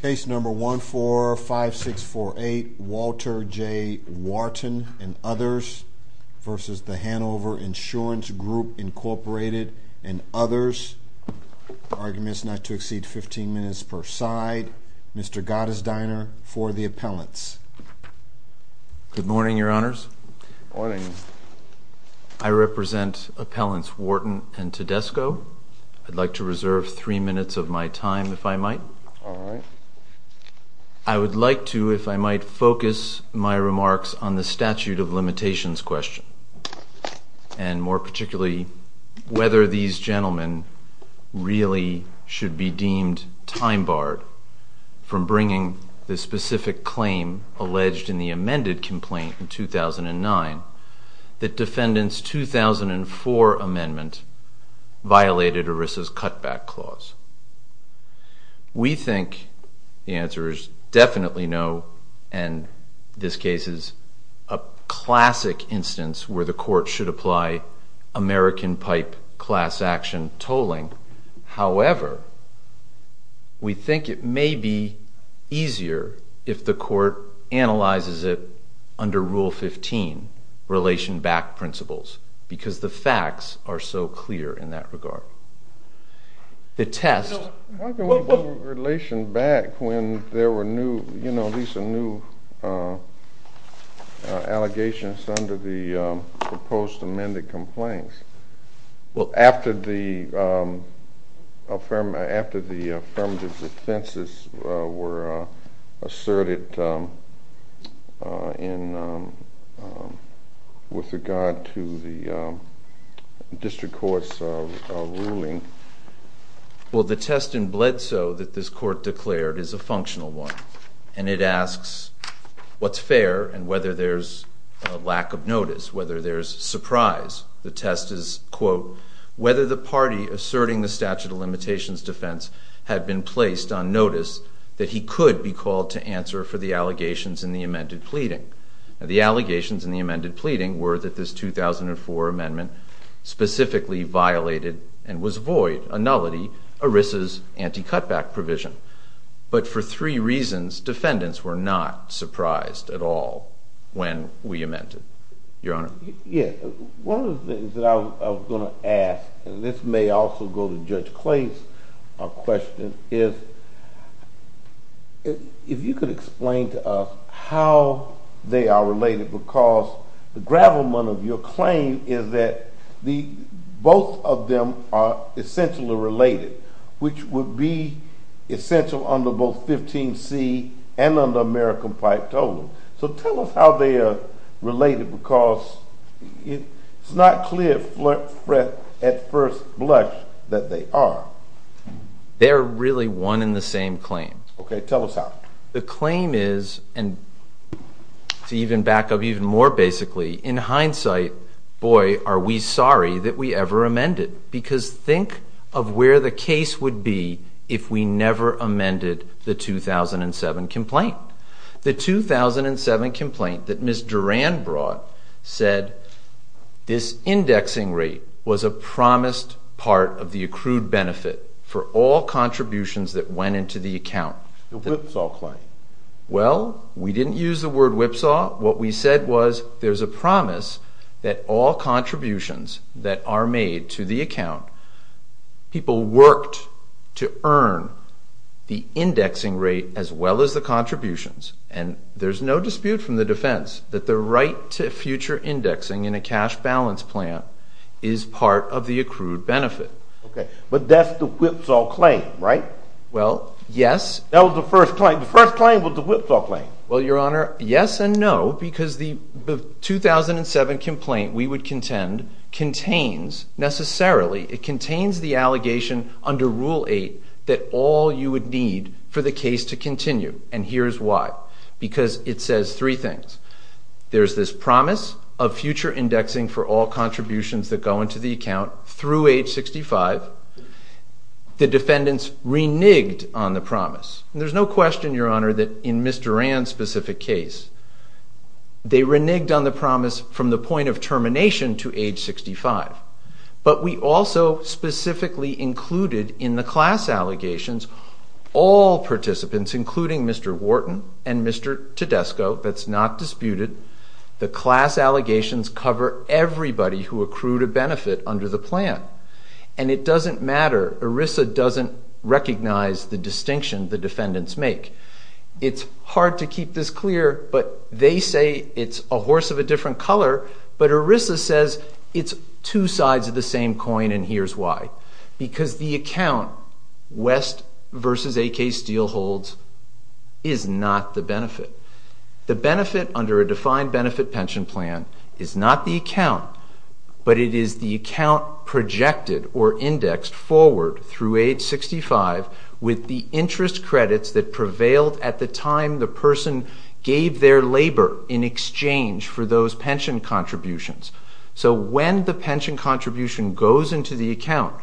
v. Hanover Insurance Group, Inc., and others, arguments not to exceed 15 minutes per side. Mr. Gottesdiener, for the appellants. Good morning, Your Honors. Good morning. I represent Appellants Wharton and Tedesco. All right. I would like to, if I might, focus my remarks on the statute of limitations question, and more particularly whether these gentlemen really should be deemed time barred from bringing the specific claim alleged in the amended complaint in 2009 that defendant's 2004 amendment violated ERISA's cutback clause. We think the answer is definitely no, and this case is a classic instance where the court should apply American pipe class action tolling. However, we think it may be easier if the court analyzes it under Rule 15, relation back principles, because the facts are so clear in that regard. The test— Why do we need relation back when there were new, you know, these are new allegations under the proposed amended complaints? Well, after the affirmative defenses were asserted with regard to the district court's ruling— Well, the test in Bledsoe that this court declared is a functional one, and it asks what's fair and whether there's a lack of notice, whether there's surprise. The test is, quote, whether the party asserting the statute of limitations defense had been placed on notice that he could be called to answer for the allegations in the amended pleading. Now, the allegations in the amended pleading were that this 2004 amendment specifically violated and was void, a nullity, ERISA's anti-cutback provision. But for three reasons, defendants were not surprised at all when we amended. Your Honor. Yeah. One of the things that I was going to ask, and this may also go to Judge Clay's question, is if you could explain to us how they are related, because the gravelman of your claim is that both of them are essentially related, which would be essential under both 15C and under American pipe totem. So tell us how they are related, because it's not clear at first blush that they are. They are really one and the same claim. Okay. Tell us how. The claim is, and to even back up even more basically, in hindsight, boy, are we sorry that we ever amended, because think of where the case would be if we never amended the 2007 complaint. The 2007 complaint that Ms. Duran brought said this indexing rate was a promised part of the accrued benefit for all contributions that went into the account. The whipsaw claim. Well, we didn't use the word whipsaw. What we said was there's a promise that all contributions that are made to the account, people worked to earn the indexing rate as well as the contributions, and there's no dispute from the defense that the right to future indexing in a cash balance plan is part of the accrued benefit. Okay. But that's the whipsaw claim, right? Well, yes. That was the first claim. The first claim was the whipsaw claim. Well, Your Honor, yes and no, because the 2007 complaint we would contend contains necessarily, it contains the allegation under Rule 8 that all you would need for the case to continue. And here's why. Because it says three things. There's this promise of future indexing for all contributions that go into the account through age 65. The defendants reneged on the promise. There's no question, Your Honor, that in Mr. Rand's specific case, they reneged on the promise from the point of termination to age 65. But we also specifically included in the class allegations all participants, including Mr. Wharton and Mr. Tedesco. That's not disputed. The class allegations cover everybody who accrued a benefit under the plan. And it doesn't matter. ERISA doesn't recognize the distinction the defendants make. It's hard to keep this clear, but they say it's a horse of a different color, but ERISA says it's two sides of the same coin and here's why. Because the account West v. A.K. Steele holds is not the benefit. The benefit under a defined benefit pension plan is not the account, but it is the account projected or indexed forward through age 65 with the interest credits that prevailed at the time the person gave their labor in exchange for those pension contributions. So when the pension contribution goes into the account,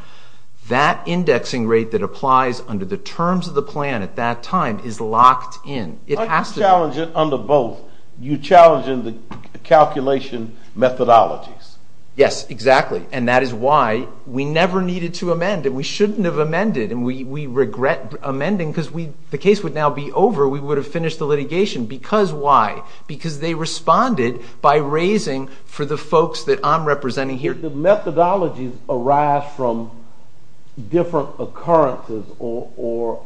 that indexing rate that applies under the terms of the plan at that time is locked in. I'm challenging under both. You're challenging the calculation methodologies. Yes, exactly, and that is why we never needed to amend and we shouldn't have amended and we regret amending because the case would now be over. We would have finished the litigation. Because why? Because they responded by raising for the folks that I'm representing here. Did the methodologies arise from different occurrences or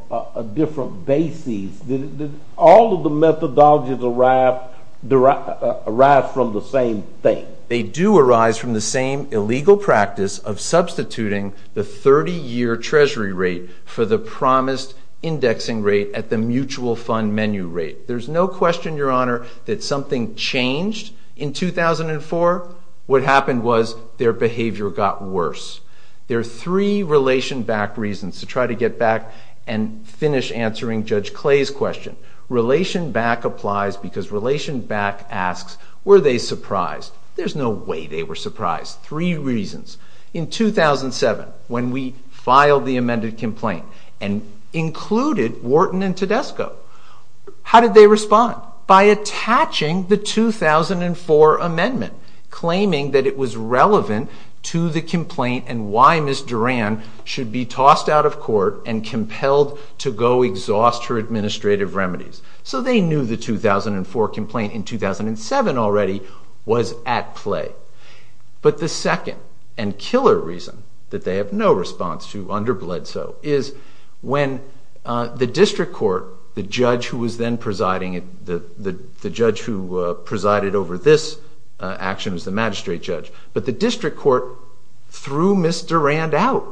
different bases? Did all of the methodologies arise from the same thing? They do arise from the same illegal practice of substituting the 30-year treasury rate for the promised indexing rate at the mutual fund menu rate. There's no question, Your Honor, that something changed in 2004. What happened was their behavior got worse. There are three relation-back reasons to try to get back and finish answering Judge Clay's question. Relation-back applies because relation-back asks, were they surprised? There's no way they were surprised. Three reasons. In 2007, when we filed the amended complaint and included Wharton and Tedesco, how did they respond? By attaching the 2004 amendment, claiming that it was relevant to the complaint and why Ms. Duran should be tossed out of court and compelled to go exhaust her administrative remedies. So they knew the 2004 complaint in 2007 already was at play. But the second and killer reason that they have no response to under Bledsoe is when the district court, the judge who was then presiding, the judge who presided over this action was the magistrate judge, but the district court threw Ms. Duran out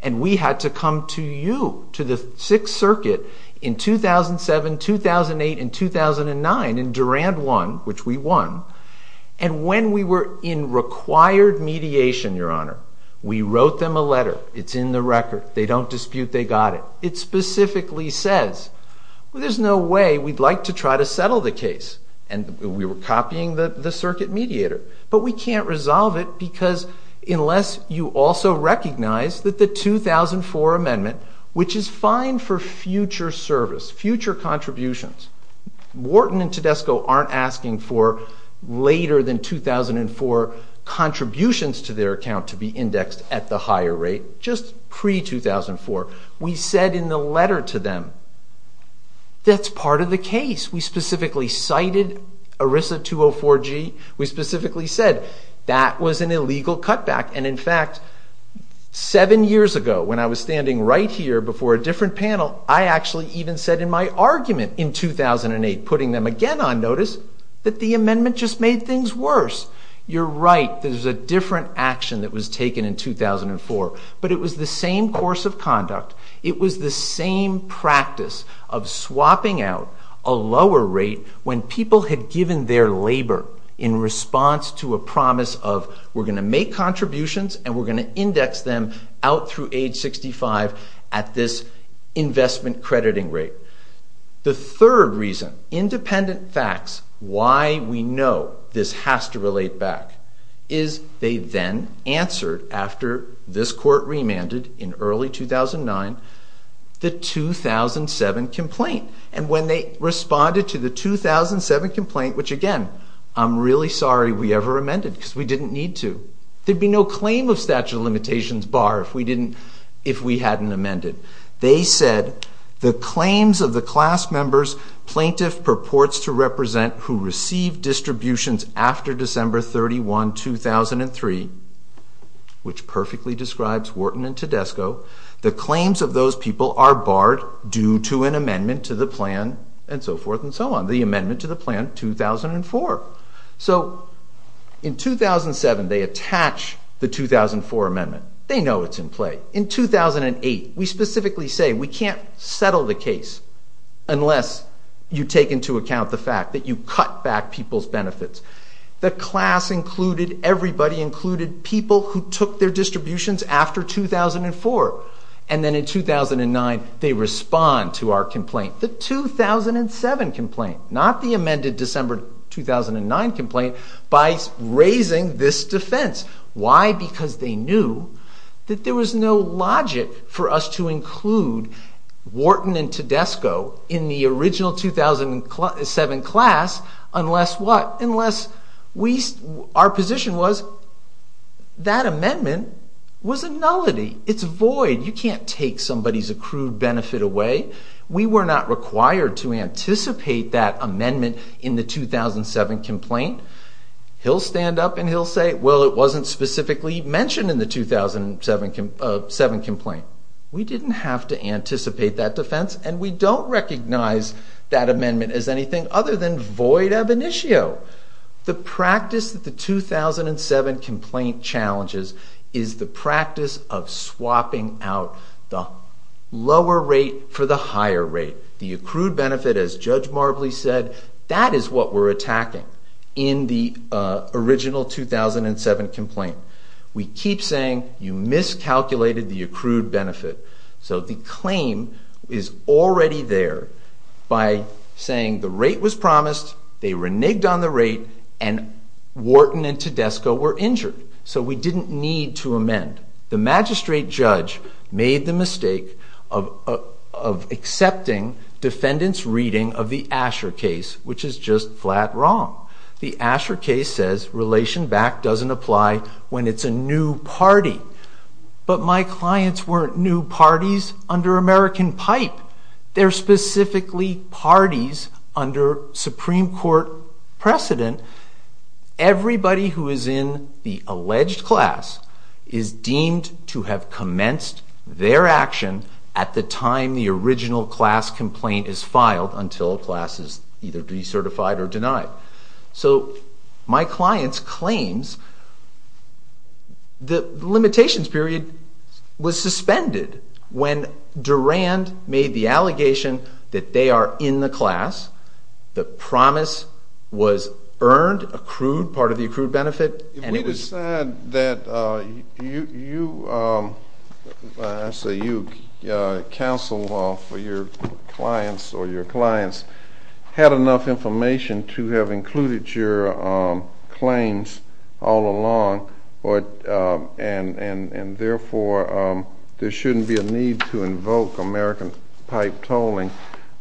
and we had to come to you, to the Sixth Circuit in 2007, 2008, and 2009, and Duran won, which we won. And when we were in required mediation, Your Honor, we wrote them a letter. It's in the record. They don't dispute they got it. It specifically says there's no way we'd like to try to settle the case, and we were copying the circuit mediator, but we can't resolve it because unless you also recognize that the 2004 amendment, which is fine for future service, future contributions, Wharton and Tedesco aren't asking for later than 2004 contributions to their account to be indexed at the higher rate, just pre-2004. We said in the letter to them that's part of the case. We specifically cited ERISA 204G. We specifically said that was an illegal cutback, and in fact, seven years ago when I was standing right here before a different panel, I actually even said in my argument in 2008, putting them again on notice, that the amendment just made things worse. You're right. There's a different action that was taken in 2004, but it was the same course of conduct. It was the same practice of swapping out a lower rate when people had given their labor in response to a promise of we're going to make contributions and we're going to index them out through age 65 at this investment crediting rate. The third reason, independent facts, why we know this has to relate back, is they then answered, after this court remanded in early 2009, the 2007 complaint. And when they responded to the 2007 complaint, which again, I'm really sorry we ever amended because we didn't need to. There'd be no claim of statute of limitations bar if we hadn't amended. They said, the claims of the class members plaintiff purports to represent who received distributions after December 31, 2003, which perfectly describes Wharton and Tedesco, the claims of those people are barred due to an amendment to the plan, and so forth and so on, the amendment to the plan 2004. So in 2007, they attach the 2004 amendment. They know it's in play. In 2008, we specifically say we can't settle the case unless you take into account the fact that you cut back people's benefits. The class included, everybody included, people who took their distributions after 2004. And then in 2009, they respond to our complaint, the 2007 complaint, not the amended December 2009 complaint, by raising this defense. Why? Because they knew that there was no logic for us to include Wharton and Tedesco in the original 2007 class unless what? Unless our position was that amendment was a nullity. It's void. You can't take somebody's accrued benefit away. We were not required to anticipate that amendment in the 2007 complaint. He'll stand up and he'll say, well, it wasn't specifically mentioned in the 2007 complaint. We didn't have to anticipate that defense, and we don't recognize that amendment as anything other than void ab initio. The practice that the 2007 complaint challenges is the practice of swapping out the lower rate for the higher rate. The accrued benefit, as Judge Marbley said, that is what we're attacking. In the original 2007 complaint, we keep saying you miscalculated the accrued benefit. So the claim is already there by saying the rate was promised, they reneged on the rate, and Wharton and Tedesco were injured. So we didn't need to amend. The magistrate judge made the mistake of accepting defendants' reading of the Asher case, which is just flat wrong. The Asher case says relation back doesn't apply when it's a new party. But my clients weren't new parties under American pipe. They're specifically parties under Supreme Court precedent. Everybody who is in the alleged class is deemed to have commenced their action at the time the original class complaint is filed until a class is either decertified or denied. So my clients' claims, the limitations period was suspended when Durand made the allegation that they are in the class, the promise was earned, accrued, part of the accrued benefit. If we decide that you counsel for your clients or your clients had enough information to have included your claims all along and therefore there shouldn't be a need to invoke American pipe tolling,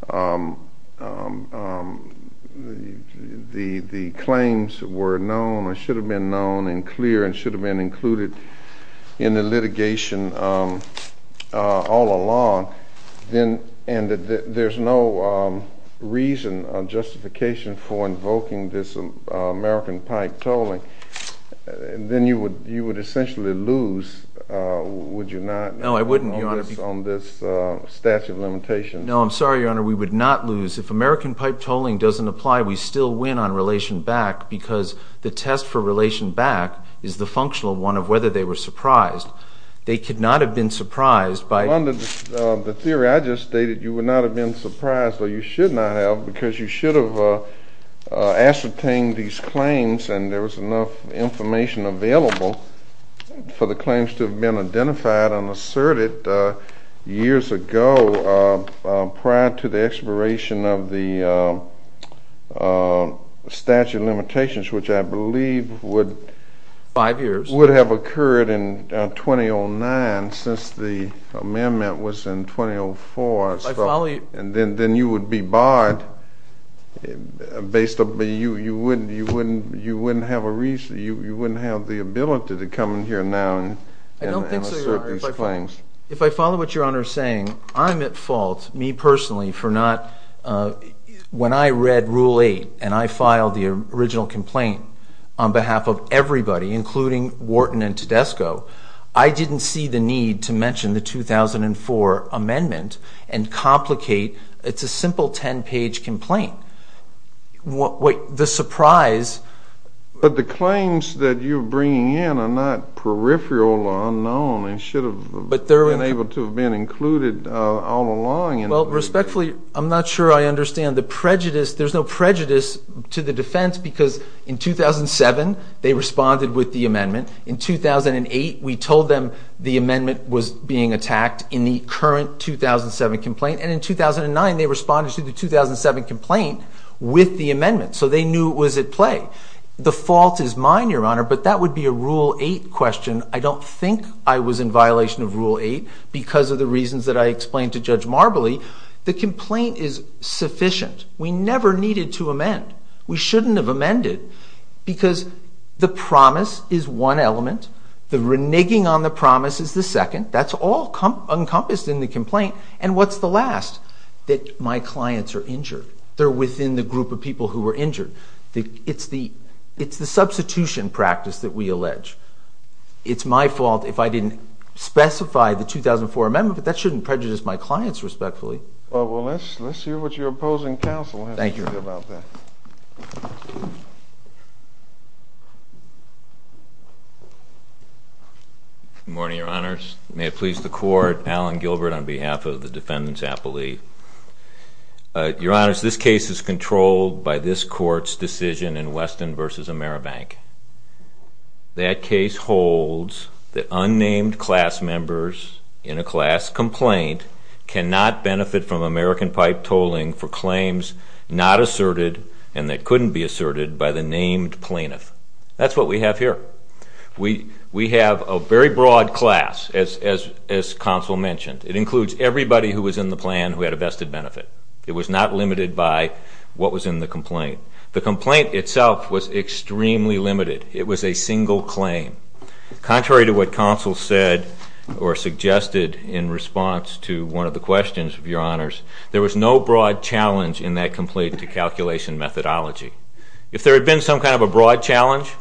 the claims were known or should have been known and clear and should have been included in the litigation all along, and there's no reason or justification for invoking this American pipe tolling, then you would essentially lose, would you not, on this statute of limitations? No, I'm sorry, Your Honor, we would not lose. If American pipe tolling doesn't apply, we still win on relation back because the test for relation back is the functional one of whether they were surprised. They could not have been surprised by... Well, under the theory I just stated, you would not have been surprised, or you should not have, because you should have ascertained these claims and there was enough information available for the claims to have been identified and asserted years ago prior to the expiration of the statute of limitations, which I believe would... Five years. ...would have occurred in 2009 since the amendment was in 2004. I follow you. And then you would be barred, you wouldn't have the ability to come in here now and assert these claims. I don't think so, Your Honor. If I follow what Your Honor is saying, I'm at fault, me personally, for not, when I read Rule 8 and I filed the original complaint on behalf of everybody, including Wharton and Tedesco, I didn't see the need to mention the 2004 amendment and complicate, it's a simple 10-page complaint. The surprise... But the claims that you're bringing in are not peripheral or unknown and should have been able to have been included all along. Well, respectfully, I'm not sure I understand the prejudice, there's no prejudice to the defense because in 2007 they responded with the amendment, in 2008 we told them the amendment was being attacked in the current 2007 complaint, and in 2009 they responded to the 2007 complaint with the amendment, so they knew it was at play. The fault is mine, Your Honor, but that would be a Rule 8 question. I don't think I was in violation of Rule 8 because of the reasons that I explained to Judge Marbley. The complaint is sufficient. We never needed to amend. We shouldn't have amended because the promise is one element, the reneging on the promise is the second, that's all encompassed in the complaint, and what's the last? That my clients are injured. They're within the group of people who were injured. It's the substitution practice that we allege. It's my fault if I didn't specify the 2004 amendment, but that shouldn't prejudice my clients respectfully. Well, let's hear what your opposing counsel has to say about that. Thank you. Good morning, Your Honors. May it please the Court, Allen Gilbert on behalf of the Defendant's Appellee. Your Honors, this case is controlled by this Court's decision in Weston v. AmeriBank. That case holds that unnamed class members in a class complaint cannot benefit from American pipe tolling for claims not asserted and that couldn't be asserted by the named plaintiff. That's what we have here. We have a very broad class, as counsel mentioned. It includes everybody who was in the plan who had a vested benefit. It was not limited by what was in the complaint. The complaint itself was extremely limited. It was a single claim. Contrary to what counsel said or suggested in response to one of the questions, Your Honors, there was no broad challenge in that complaint to calculation methodology. If there had been some kind of a broad challenge,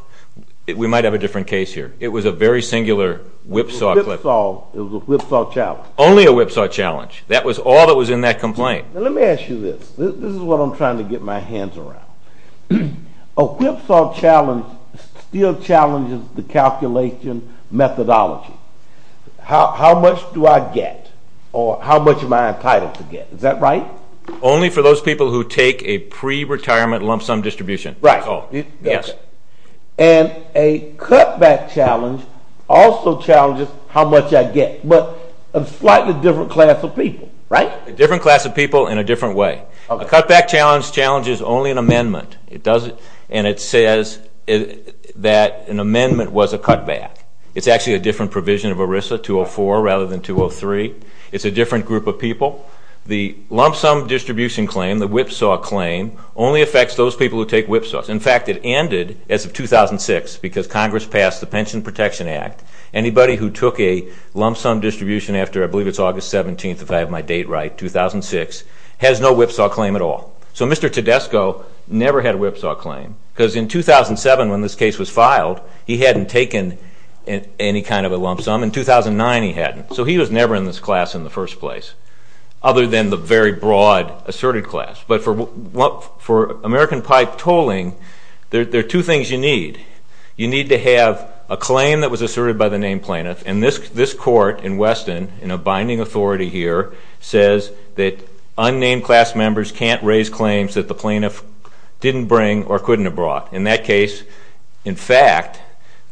we might have a different case here. It was a very singular whipsaw. It was a whipsaw challenge. Only a whipsaw challenge. That was all that was in that complaint. Let me ask you this. This is what I'm trying to get my hands around. A whipsaw challenge still challenges the calculation methodology. How much do I get or how much am I entitled to get? Is that right? Only for those people who take a pre-retirement lump sum distribution. Right. Yes. And a cutback challenge also challenges how much I get, but a slightly different class of people, right? A different class of people in a different way. A cutback challenge challenges only an amendment. And it says that an amendment was a cutback. It's actually a different provision of ERISA, 204, rather than 203. It's a different group of people. The lump sum distribution claim, the whipsaw claim, only affects those people who take whipsaws. In fact, it ended as of 2006 because Congress passed the Pension Protection Act. Anybody who took a lump sum distribution after, I believe it's August 17th if I have my date right, 2006, has no whipsaw claim at all. So Mr. Tedesco never had a whipsaw claim because in 2007 when this case was filed, he hadn't taken any kind of a lump sum. In 2009, he hadn't. So he was never in this class in the first place other than the very broad asserted class. But for American pipe tolling, there are two things you need. You need to have a claim that was asserted by the named plaintiff. And this court in Weston, in a binding authority here, says that unnamed class members can't raise claims that the plaintiff didn't bring or couldn't have brought. In that case, in fact,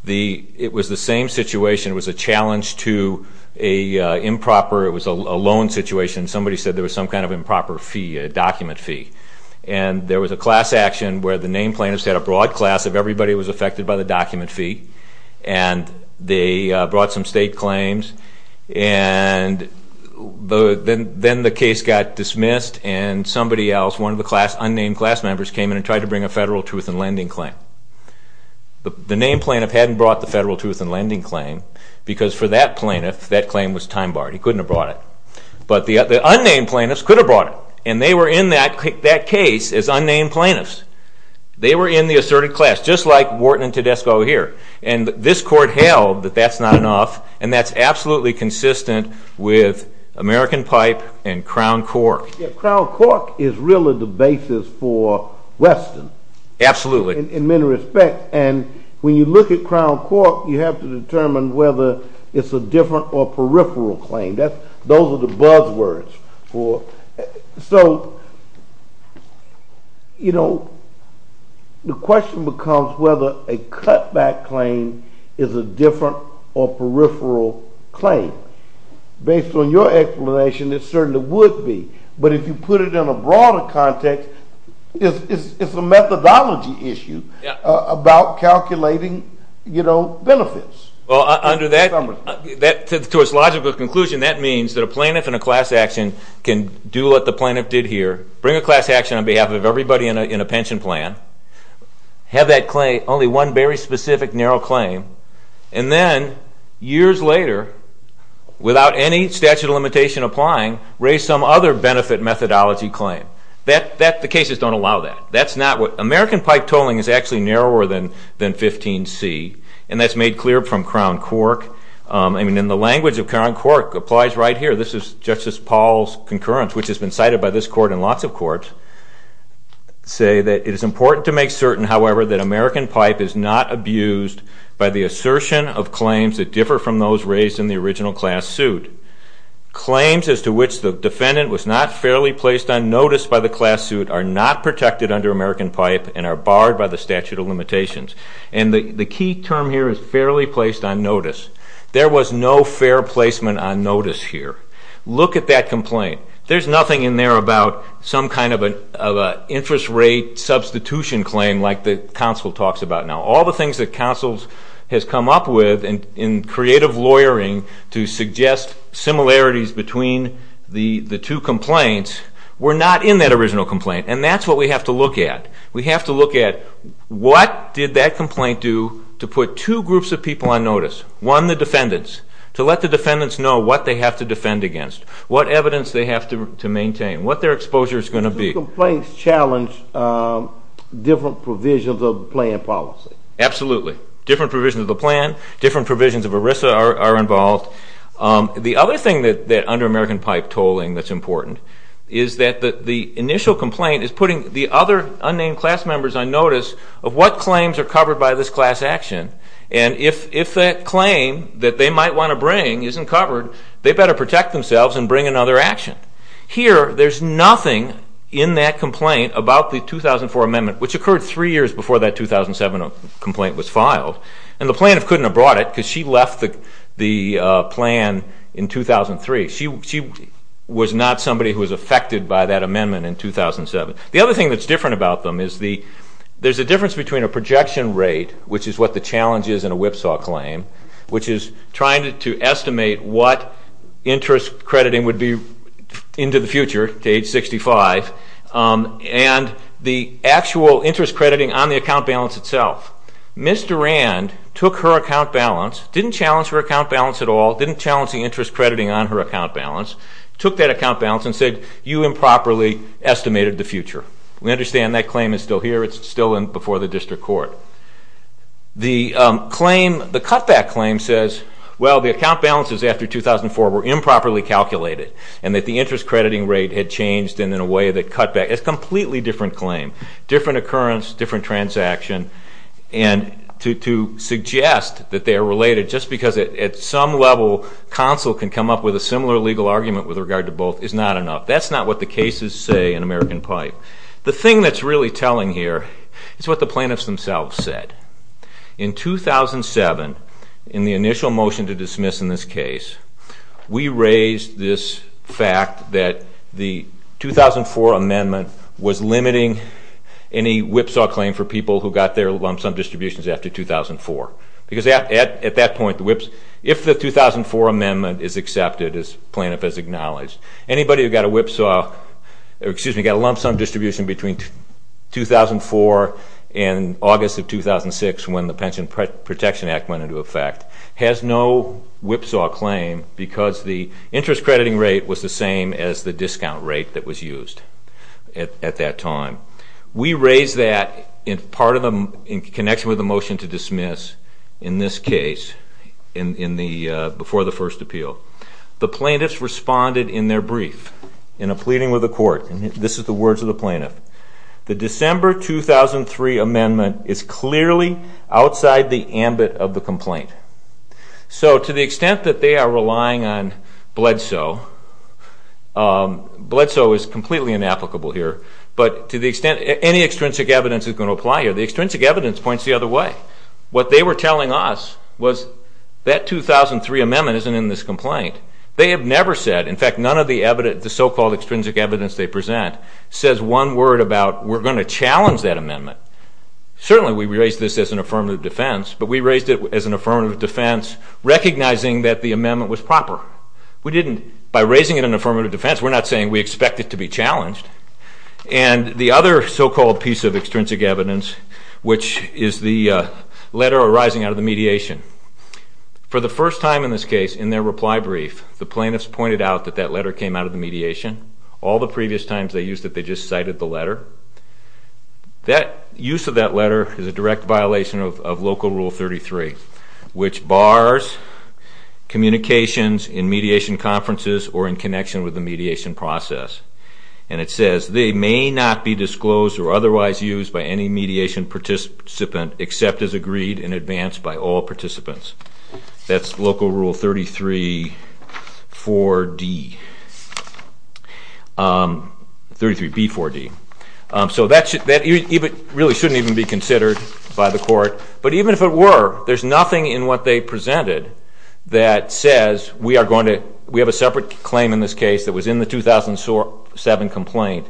it was the same situation. It was a challenge to a improper, it was a loan situation. Somebody said there was some kind of improper fee, a document fee. And there was a class action where the named plaintiffs had a broad class of everybody who was affected by the document fee. And they brought some state claims. And then the case got dismissed and somebody else, one of the unnamed class members, came in and tried to bring a federal truth in lending claim. The named plaintiff hadn't brought the federal truth in lending claim because for that plaintiff, that claim was time barred. He couldn't have brought it. But the unnamed plaintiffs could have brought it. And they were in that case as unnamed plaintiffs. They were in the asserted class, just like Wharton and Tedesco here. And this court held that that's not enough. And that's absolutely consistent with American pipe and Crown Cork. Crown Cork is really the basis for Weston. Absolutely. In many respects. And when you look at Crown Cork, you have to determine whether it's a different or peripheral claim. Those are the buzz words. So the question becomes whether a cutback claim is a different or peripheral claim. Based on your explanation, it certainly would be. But if you put it in a broader context, it's a methodology issue about calculating benefits. Well, to its logical conclusion, that means that a plaintiff in a class action can do what the plaintiff did here, bring a class action on behalf of everybody in a pension plan, have that claim, only one very specific narrow claim, and then years later, without any statute of limitation applying, raise some other benefit methodology claim. The cases don't allow that. American pipe tolling is actually narrower than 15C. And that's made clear from Crown Cork. And the language of Crown Cork applies right here. This is Justice Paul's concurrence, which has been cited by this court and lots of courts, say that it is important to make certain, however, that American pipe is not abused by the assertion of claims that differ from those raised in the original class suit. Claims as to which the defendant was not fairly placed on notice by the class suit are not protected under American pipe and are barred by the statute of limitations. And the key term here is fairly placed on notice. There was no fair placement on notice here. Look at that complaint. There's nothing in there about some kind of an interest rate substitution claim like the counsel talks about now. All the things that counsel has come up with in creative lawyering to suggest similarities between the two complaints were not in that original complaint. And that's what we have to look at. We have to look at what did that complaint do to put two groups of people on notice, one, the defendants, to let the defendants know what they have to defend against, what evidence they have to maintain, what their exposure is going to be. These complaints challenge different provisions of the plan policy. Absolutely. Different provisions of the plan, different provisions of ERISA are involved. The other thing that under American pipe tolling that's important is that the initial complaint is putting the other unnamed class members on notice of what claims are covered by this class action. And if that claim that they might want to bring isn't covered, they better protect themselves and bring another action. Here, there's nothing in that complaint about the 2004 amendment, which occurred three years before that 2007 complaint was filed. And the plaintiff couldn't have brought it because she left the plan in 2003. She was not somebody who was affected by that amendment in 2007. The other thing that's different about them is there's a difference between a projection rate, which is what the challenge is in a whipsaw claim, which is trying to estimate what interest crediting would be into the future to age 65, and the actual interest crediting on the account balance itself. Ms. Durand took her account balance, didn't challenge her account balance at all, didn't challenge the interest crediting on her account balance, took that account balance and said, you improperly estimated the future. We understand that claim is still here. It's still before the district court. The cutback claim says, well, the account balances after 2004 were improperly calculated and that the interest crediting rate had changed in a way that cut back. It's a completely different claim, different occurrence, different transaction. And to suggest that they are related just because at some level counsel can come up with a similar legal argument with regard to both is not enough. That's not what the cases say in American Pipe. The thing that's really telling here is what the plaintiffs themselves said. In 2007, in the initial motion to dismiss in this case, we raised this fact that the 2004 amendment was limiting any whipsaw claim for people who got their lump sum distributions after 2004. Because at that point, if the 2004 amendment is accepted as plaintiff has acknowledged, anybody who got a whipsaw, excuse me, got a lump sum distribution between 2004 and August of 2006 when the Pension Protection Act went into effect has no whipsaw claim because the interest crediting rate was the same as the discount rate that was used at that time. We raised that in connection with the motion to dismiss in this case before the first appeal. The plaintiffs responded in their brief in a pleading with the court. This is the words of the plaintiff. The December 2003 amendment is clearly outside the ambit of the complaint. So to the extent that they are relying on bledsoe, bledsoe is completely inapplicable here, but to the extent any extrinsic evidence is going to apply here, the extrinsic evidence points the other way. What they were telling us was that 2003 amendment isn't in this complaint. They have never said, in fact, none of the evidence, the so-called extrinsic evidence they present, says one word about we're going to challenge that amendment. Certainly we raised this as an affirmative defense, but we raised it as an affirmative defense recognizing that the amendment was proper. We didn't, by raising it in an affirmative defense, we're not saying we expect it to be challenged. And the other so-called piece of extrinsic evidence, which is the letter arising out of the mediation. For the first time in this case, in their reply brief, the plaintiffs pointed out that that letter came out of the mediation. All the previous times they used it, they just cited the letter. Use of that letter is a direct violation of Local Rule 33, which bars communications in mediation conferences or in connection with the mediation process. And it says, They may not be disclosed or otherwise used by any mediation participant except as agreed in advance by all participants. That's Local Rule 33B4D. So that really shouldn't even be considered by the court. But even if it were, there's nothing in what they presented that says, We have a separate claim in this case that was in the 2007 complaint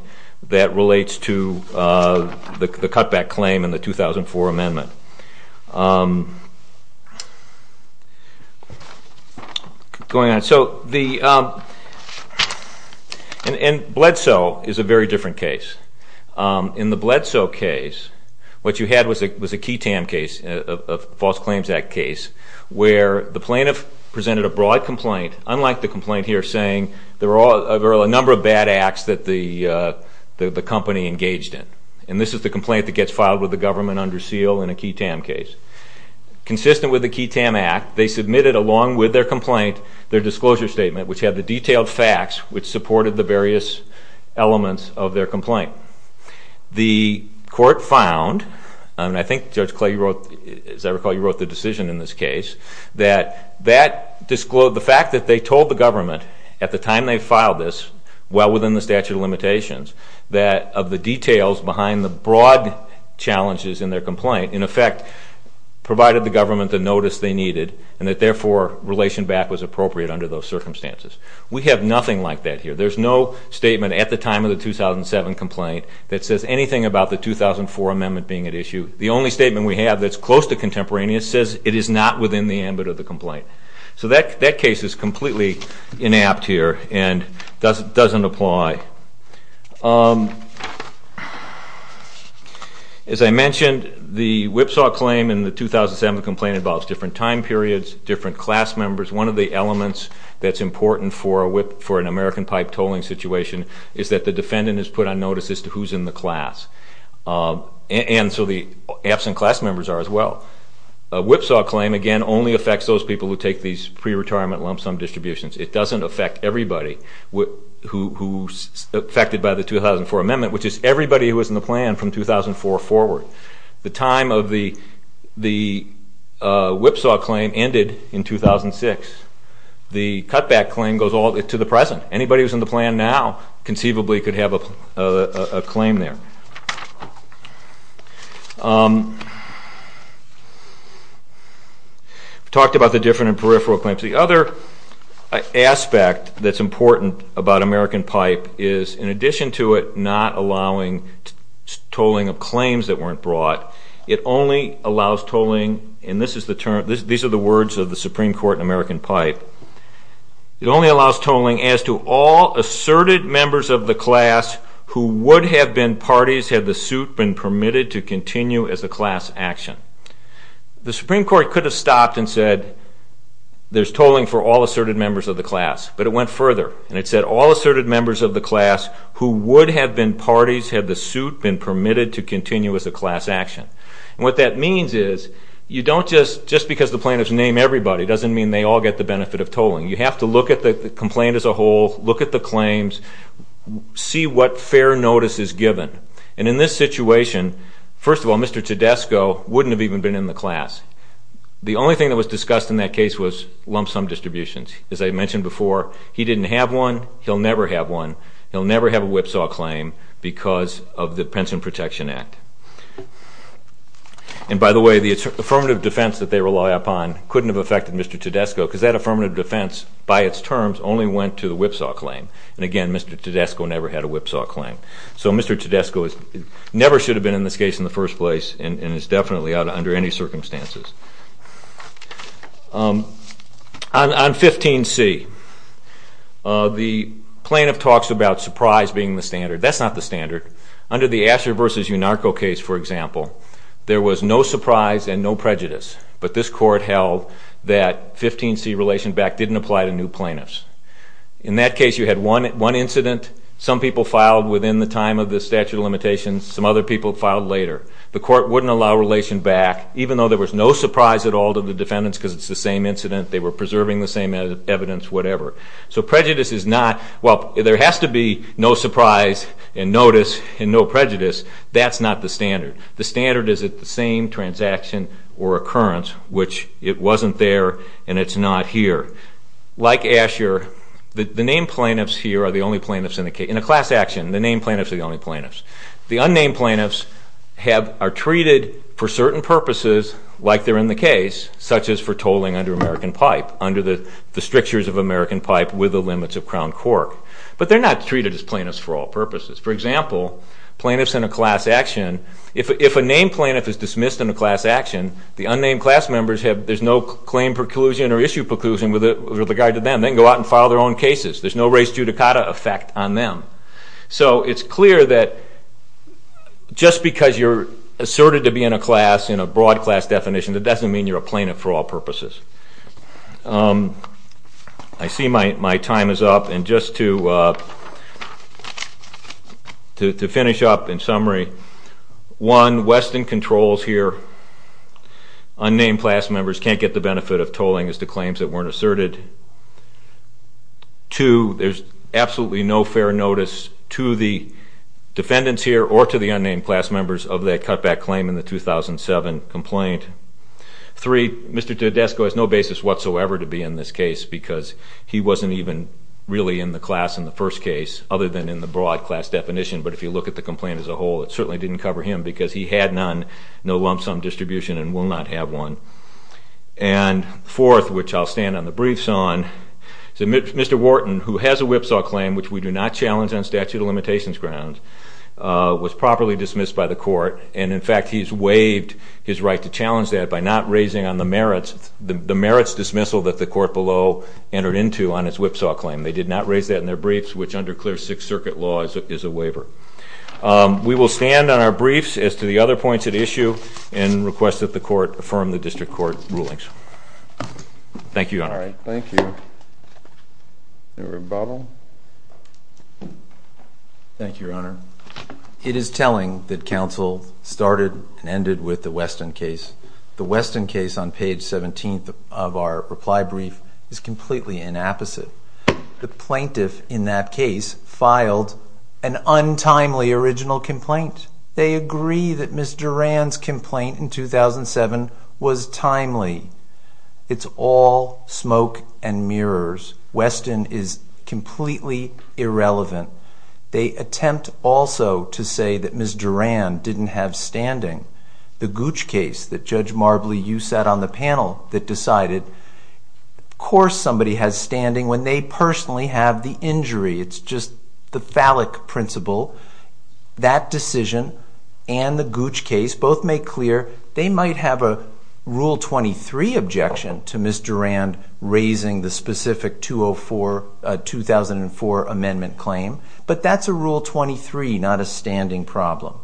that relates to the cutback claim in the 2004 amendment. Going on. And Bledsoe is a very different case. In the Bledsoe case, what you had was a key TAM case, a False Claims Act case, where the plaintiff presented a broad complaint, unlike the complaint here saying there are a number of bad acts that the company engaged in. And this is the complaint that gets filed with the government under seal in a key TAM case. Consistent with the key TAM act, they submitted along with their complaint their disclosure statement, which had the detailed facts which supported the various elements The court found, and I think Judge Clay, as I recall, you wrote the decision in this case, that the fact that they told the government at the time they filed this, well within the statute of limitations, that of the details behind the broad challenges in their complaint, in effect provided the government the notice they needed and that therefore relation back was appropriate under those circumstances. We have nothing like that here. There's no statement at the time of the 2007 complaint that says anything about the 2004 amendment being at issue. The only statement we have that's close to contemporaneous says it is not within the ambit of the complaint. So that case is completely inapt here and doesn't apply. As I mentioned, the whipsaw claim in the 2007 complaint involves different time periods, different class members. One of the elements that's important for an American pipe tolling situation is that the defendant is put on notice as to who's in the class. And so the absent class members are as well. A whipsaw claim, again, only affects those people who take these pre-retirement lump sum distributions. It doesn't affect everybody who's affected by the 2004 amendment, which is everybody who was in the plan from 2004 forward. The time of the whipsaw claim ended in 2006. The cutback claim goes all the way to the present. Anybody who's in the plan now conceivably could have a claim there. We talked about the different and peripheral claims. The other aspect that's important about American pipe is in addition to it not allowing tolling of claims that weren't brought, it only allows tolling, and this is the term, these are the words of the Supreme Court in American pipe, it only allows tolling as to all asserted members of the class who would have been parties had the suit been permitted to continue as a class action. The Supreme Court could have stopped and said there's tolling for all asserted members of the class, but it went further, and it said all asserted members of the class who would have been parties had the suit been permitted to continue as a class action. And what that means is you don't just, just because the plaintiffs name everybody doesn't mean they all get the benefit of tolling. You have to look at the complaint as a whole, look at the claims, see what fair notice is given. And in this situation, first of all, Mr. Tedesco wouldn't have even been in the class. The only thing that was discussed in that case was lump sum distributions. As I mentioned before, he didn't have one, he'll never have one, he'll never have a whipsaw claim because of the Pension Protection Act. And by the way, the affirmative defense that they rely upon couldn't have affected Mr. Tedesco because that affirmative defense, by its terms, only went to the whipsaw claim. And again, Mr. Tedesco never had a whipsaw claim. So Mr. Tedesco never should have been in this case in the first place and is definitely out under any circumstances. On 15C, the plaintiff talks about surprise being the standard. That's not the standard. Under the Asher v. Unarco case, for example, there was no surprise and no prejudice, but this court held that 15C relation back didn't apply to new plaintiffs. In that case, you had one incident, some people filed within the time of the statute of limitations, some other people filed later. The court wouldn't allow relation back, even though there was no surprise at all to the defendants because it's the same incident, they were preserving the same evidence, whatever. So prejudice is not – well, there has to be no surprise and notice and no prejudice, that's not the standard. The standard is at the same transaction or occurrence, which it wasn't there and it's not here. Like Asher, the named plaintiffs here are the only plaintiffs in a class action. The named plaintiffs are the only plaintiffs. The unnamed plaintiffs are treated for certain purposes, like they're in the case, such as for tolling under American pipe, under the strictures of American pipe with the limits of crown court. But they're not treated as plaintiffs for all purposes. For example, plaintiffs in a class action, if a named plaintiff is dismissed in a class action, the unnamed class members have – there's no claim preclusion or issue preclusion with regard to them. They can go out and file their own cases. There's no res judicata effect on them. So it's clear that just because you're asserted to be in a class, in a broad class definition, that doesn't mean you're a plaintiff for all purposes. I see my time is up. And just to finish up in summary, one, Weston controls here. Unnamed class members can't get the benefit of tolling as to claims that weren't asserted. Two, there's absolutely no fair notice to the defendants here or to the unnamed class members of that cutback claim in the 2007 complaint. Three, Mr. Tedesco has no basis whatsoever to be in this case because he wasn't even really in the class in the first case other than in the broad class definition. But if you look at the complaint as a whole, it certainly didn't cover him because he had none, no lump sum distribution, and will not have one. And fourth, which I'll stand on the briefs on, Mr. Wharton, who has a whipsaw claim, which we do not challenge on statute of limitations grounds, was properly dismissed by the court. And, in fact, he's waived his right to challenge that by not raising on the merits dismissal that the court below entered into on his whipsaw claim. They did not raise that in their briefs, which under clear Sixth Circuit law is a waiver. We will stand on our briefs as to the other points at issue and request that the court affirm the district court rulings. Thank you, Your Honor. Thank you. Is there a rebuttal? Thank you, Your Honor. It is telling that counsel started and ended with the Weston case. The Weston case on page 17 of our reply brief is completely inapposite. The plaintiff in that case filed an untimely original complaint. They agree that Ms. Duran's complaint in 2007 was timely. It's all smoke and mirrors. Weston is completely irrelevant. They attempt also to say that Ms. Duran didn't have standing. The Gooch case that Judge Marbley, you sat on the panel that decided, of course somebody has standing when they personally have the injury. It's just the phallic principle. That decision and the Gooch case both make clear they might have a Rule 23 objection to Ms. Duran raising the specific 2004 amendment claim, but that's a Rule 23, not a standing problem.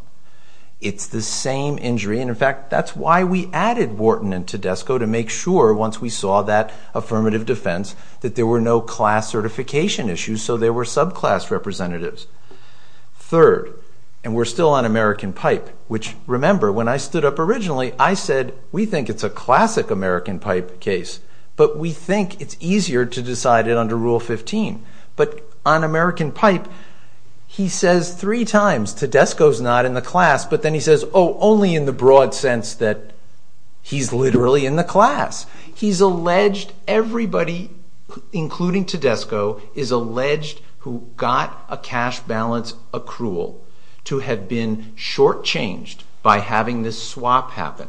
It's the same injury, and, in fact, that's why we added Wharton and Tedesco to make sure once we saw that affirmative defense that there were no class certification issues, so there were subclass representatives. Third, and we're still on American Pipe, which, remember, when I stood up originally, I said, we think it's a classic American Pipe case, but we think it's easier to decide it under Rule 15. But on American Pipe, he says three times, Tedesco's not in the class, but then he says, oh, only in the broad sense that he's literally in the class. He's alleged everybody, including Tedesco, is alleged who got a cash balance accrual to have been shortchanged by having this swap happen.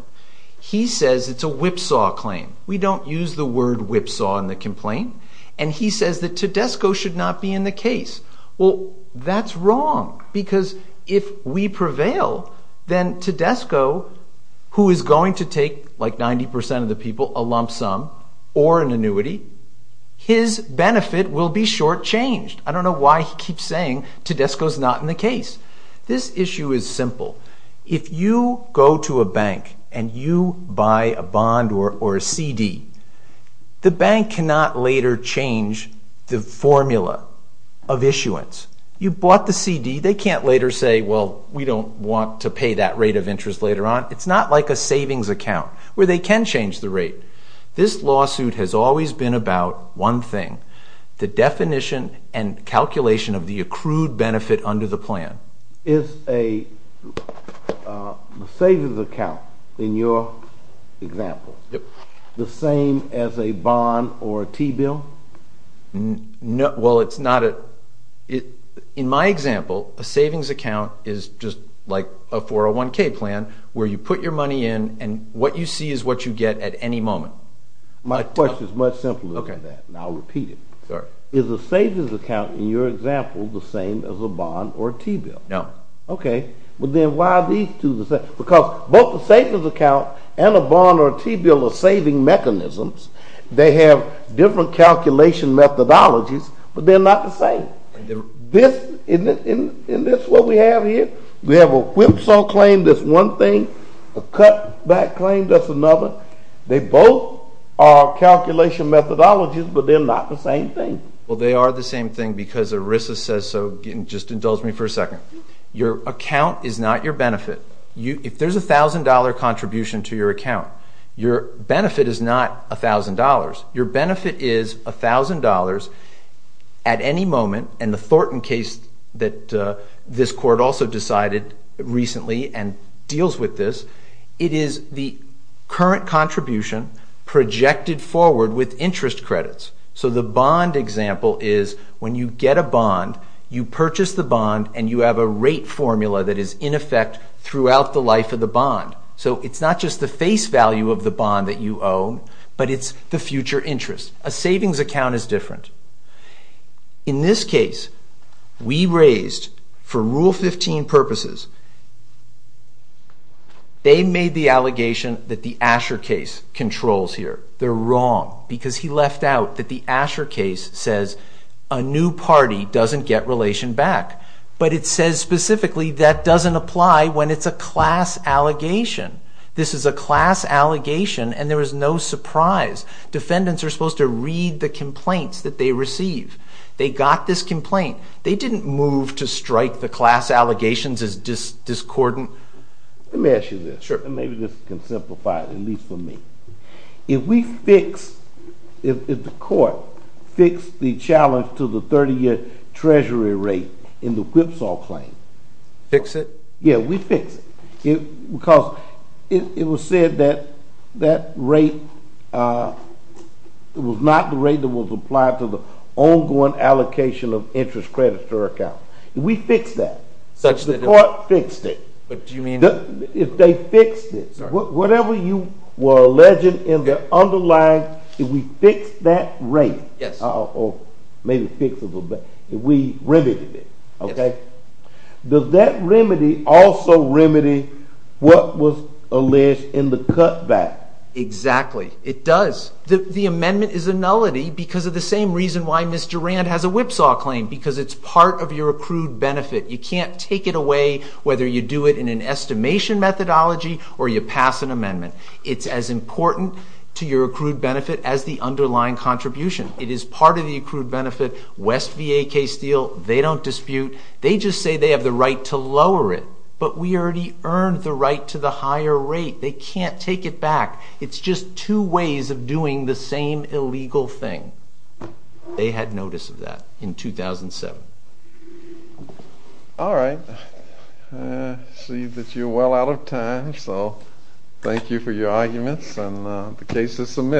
He says it's a whipsaw claim. We don't use the word whipsaw in the complaint, and he says that Tedesco should not be in the case. Well, that's wrong because if we prevail, then Tedesco, who is going to take, like 90% of the people, a lump sum or an annuity, his benefit will be shortchanged. I don't know why he keeps saying Tedesco's not in the case. This issue is simple. If you go to a bank and you buy a bond or a CD, the bank cannot later change the formula of issuance. You bought the CD. They can't later say, well, we don't want to pay that rate of interest later on. It's not like a savings account where they can change the rate. This lawsuit has always been about one thing, the definition and calculation of the accrued benefit under the plan. Is a savings account, in your example, the same as a bond or a T-bill? Well, it's not. In my example, a savings account is just like a 401K plan where you put your money in, and what you see is what you get at any moment. My question is much simpler than that, and I'll repeat it. Is a savings account, in your example, the same as a bond or a T-bill? No. Okay. But then why are these two the same? Because both the savings account and a bond or a T-bill are saving mechanisms. They have different calculation methodologies, but they're not the same. Isn't this what we have here? We have a whipsaw claim that's one thing, a cutback claim that's another. They both are calculation methodologies, but they're not the same thing. Well, they are the same thing because ERISA says so. Just indulge me for a second. Your account is not your benefit. If there's a $1,000 contribution to your account, your benefit is not $1,000. Your benefit is $1,000 at any moment, and the Thornton case that this court also decided recently and deals with this, it is the current contribution projected forward with interest credits. So the bond example is when you get a bond, you purchase the bond, and you have a rate formula that is in effect throughout the life of the bond. So it's not just the face value of the bond that you owe, but it's the future interest. A savings account is different. In this case, we raised, for Rule 15 purposes, they made the allegation that the Asher case controls here. They're wrong because he left out that the Asher case says a new party doesn't get relation back, but it says specifically that doesn't apply when it's a class allegation. This is a class allegation, and there is no surprise. Defendants are supposed to read the complaints that they receive. They got this complaint. They didn't move to strike the class allegations as discordant. Let me ask you this, and maybe this can simplify it, at least for me. If we fix, if the court fixed the challenge to the 30-year treasury rate in the Whipsaw claim. Fix it? Yeah, we fix it because it was said that that rate was not the rate that was applied to the ongoing allocation of interest credit to our account. If we fix that, if the court fixed it, if they fixed it, whatever you were alleging in the underlying, if we fixed that rate, or maybe fixed it a little bit, if we remedied it, does that remedy also remedy what was alleged in the cutback? Exactly. It does. The amendment is a nullity because of the same reason why Ms. Durand has a Whipsaw claim, because it's part of your accrued benefit. You can't take it away whether you do it in an estimation methodology or you pass an amendment. It's as important to your accrued benefit as the underlying contribution. It is part of the accrued benefit. West v. AK Steele, they don't dispute. They just say they have the right to lower it, but we already earned the right to the higher rate. They can't take it back. It's just two ways of doing the same illegal thing. They had notice of that in 2007. All right. I see that you're well out of time, so thank you for your arguments, and the case is submitted.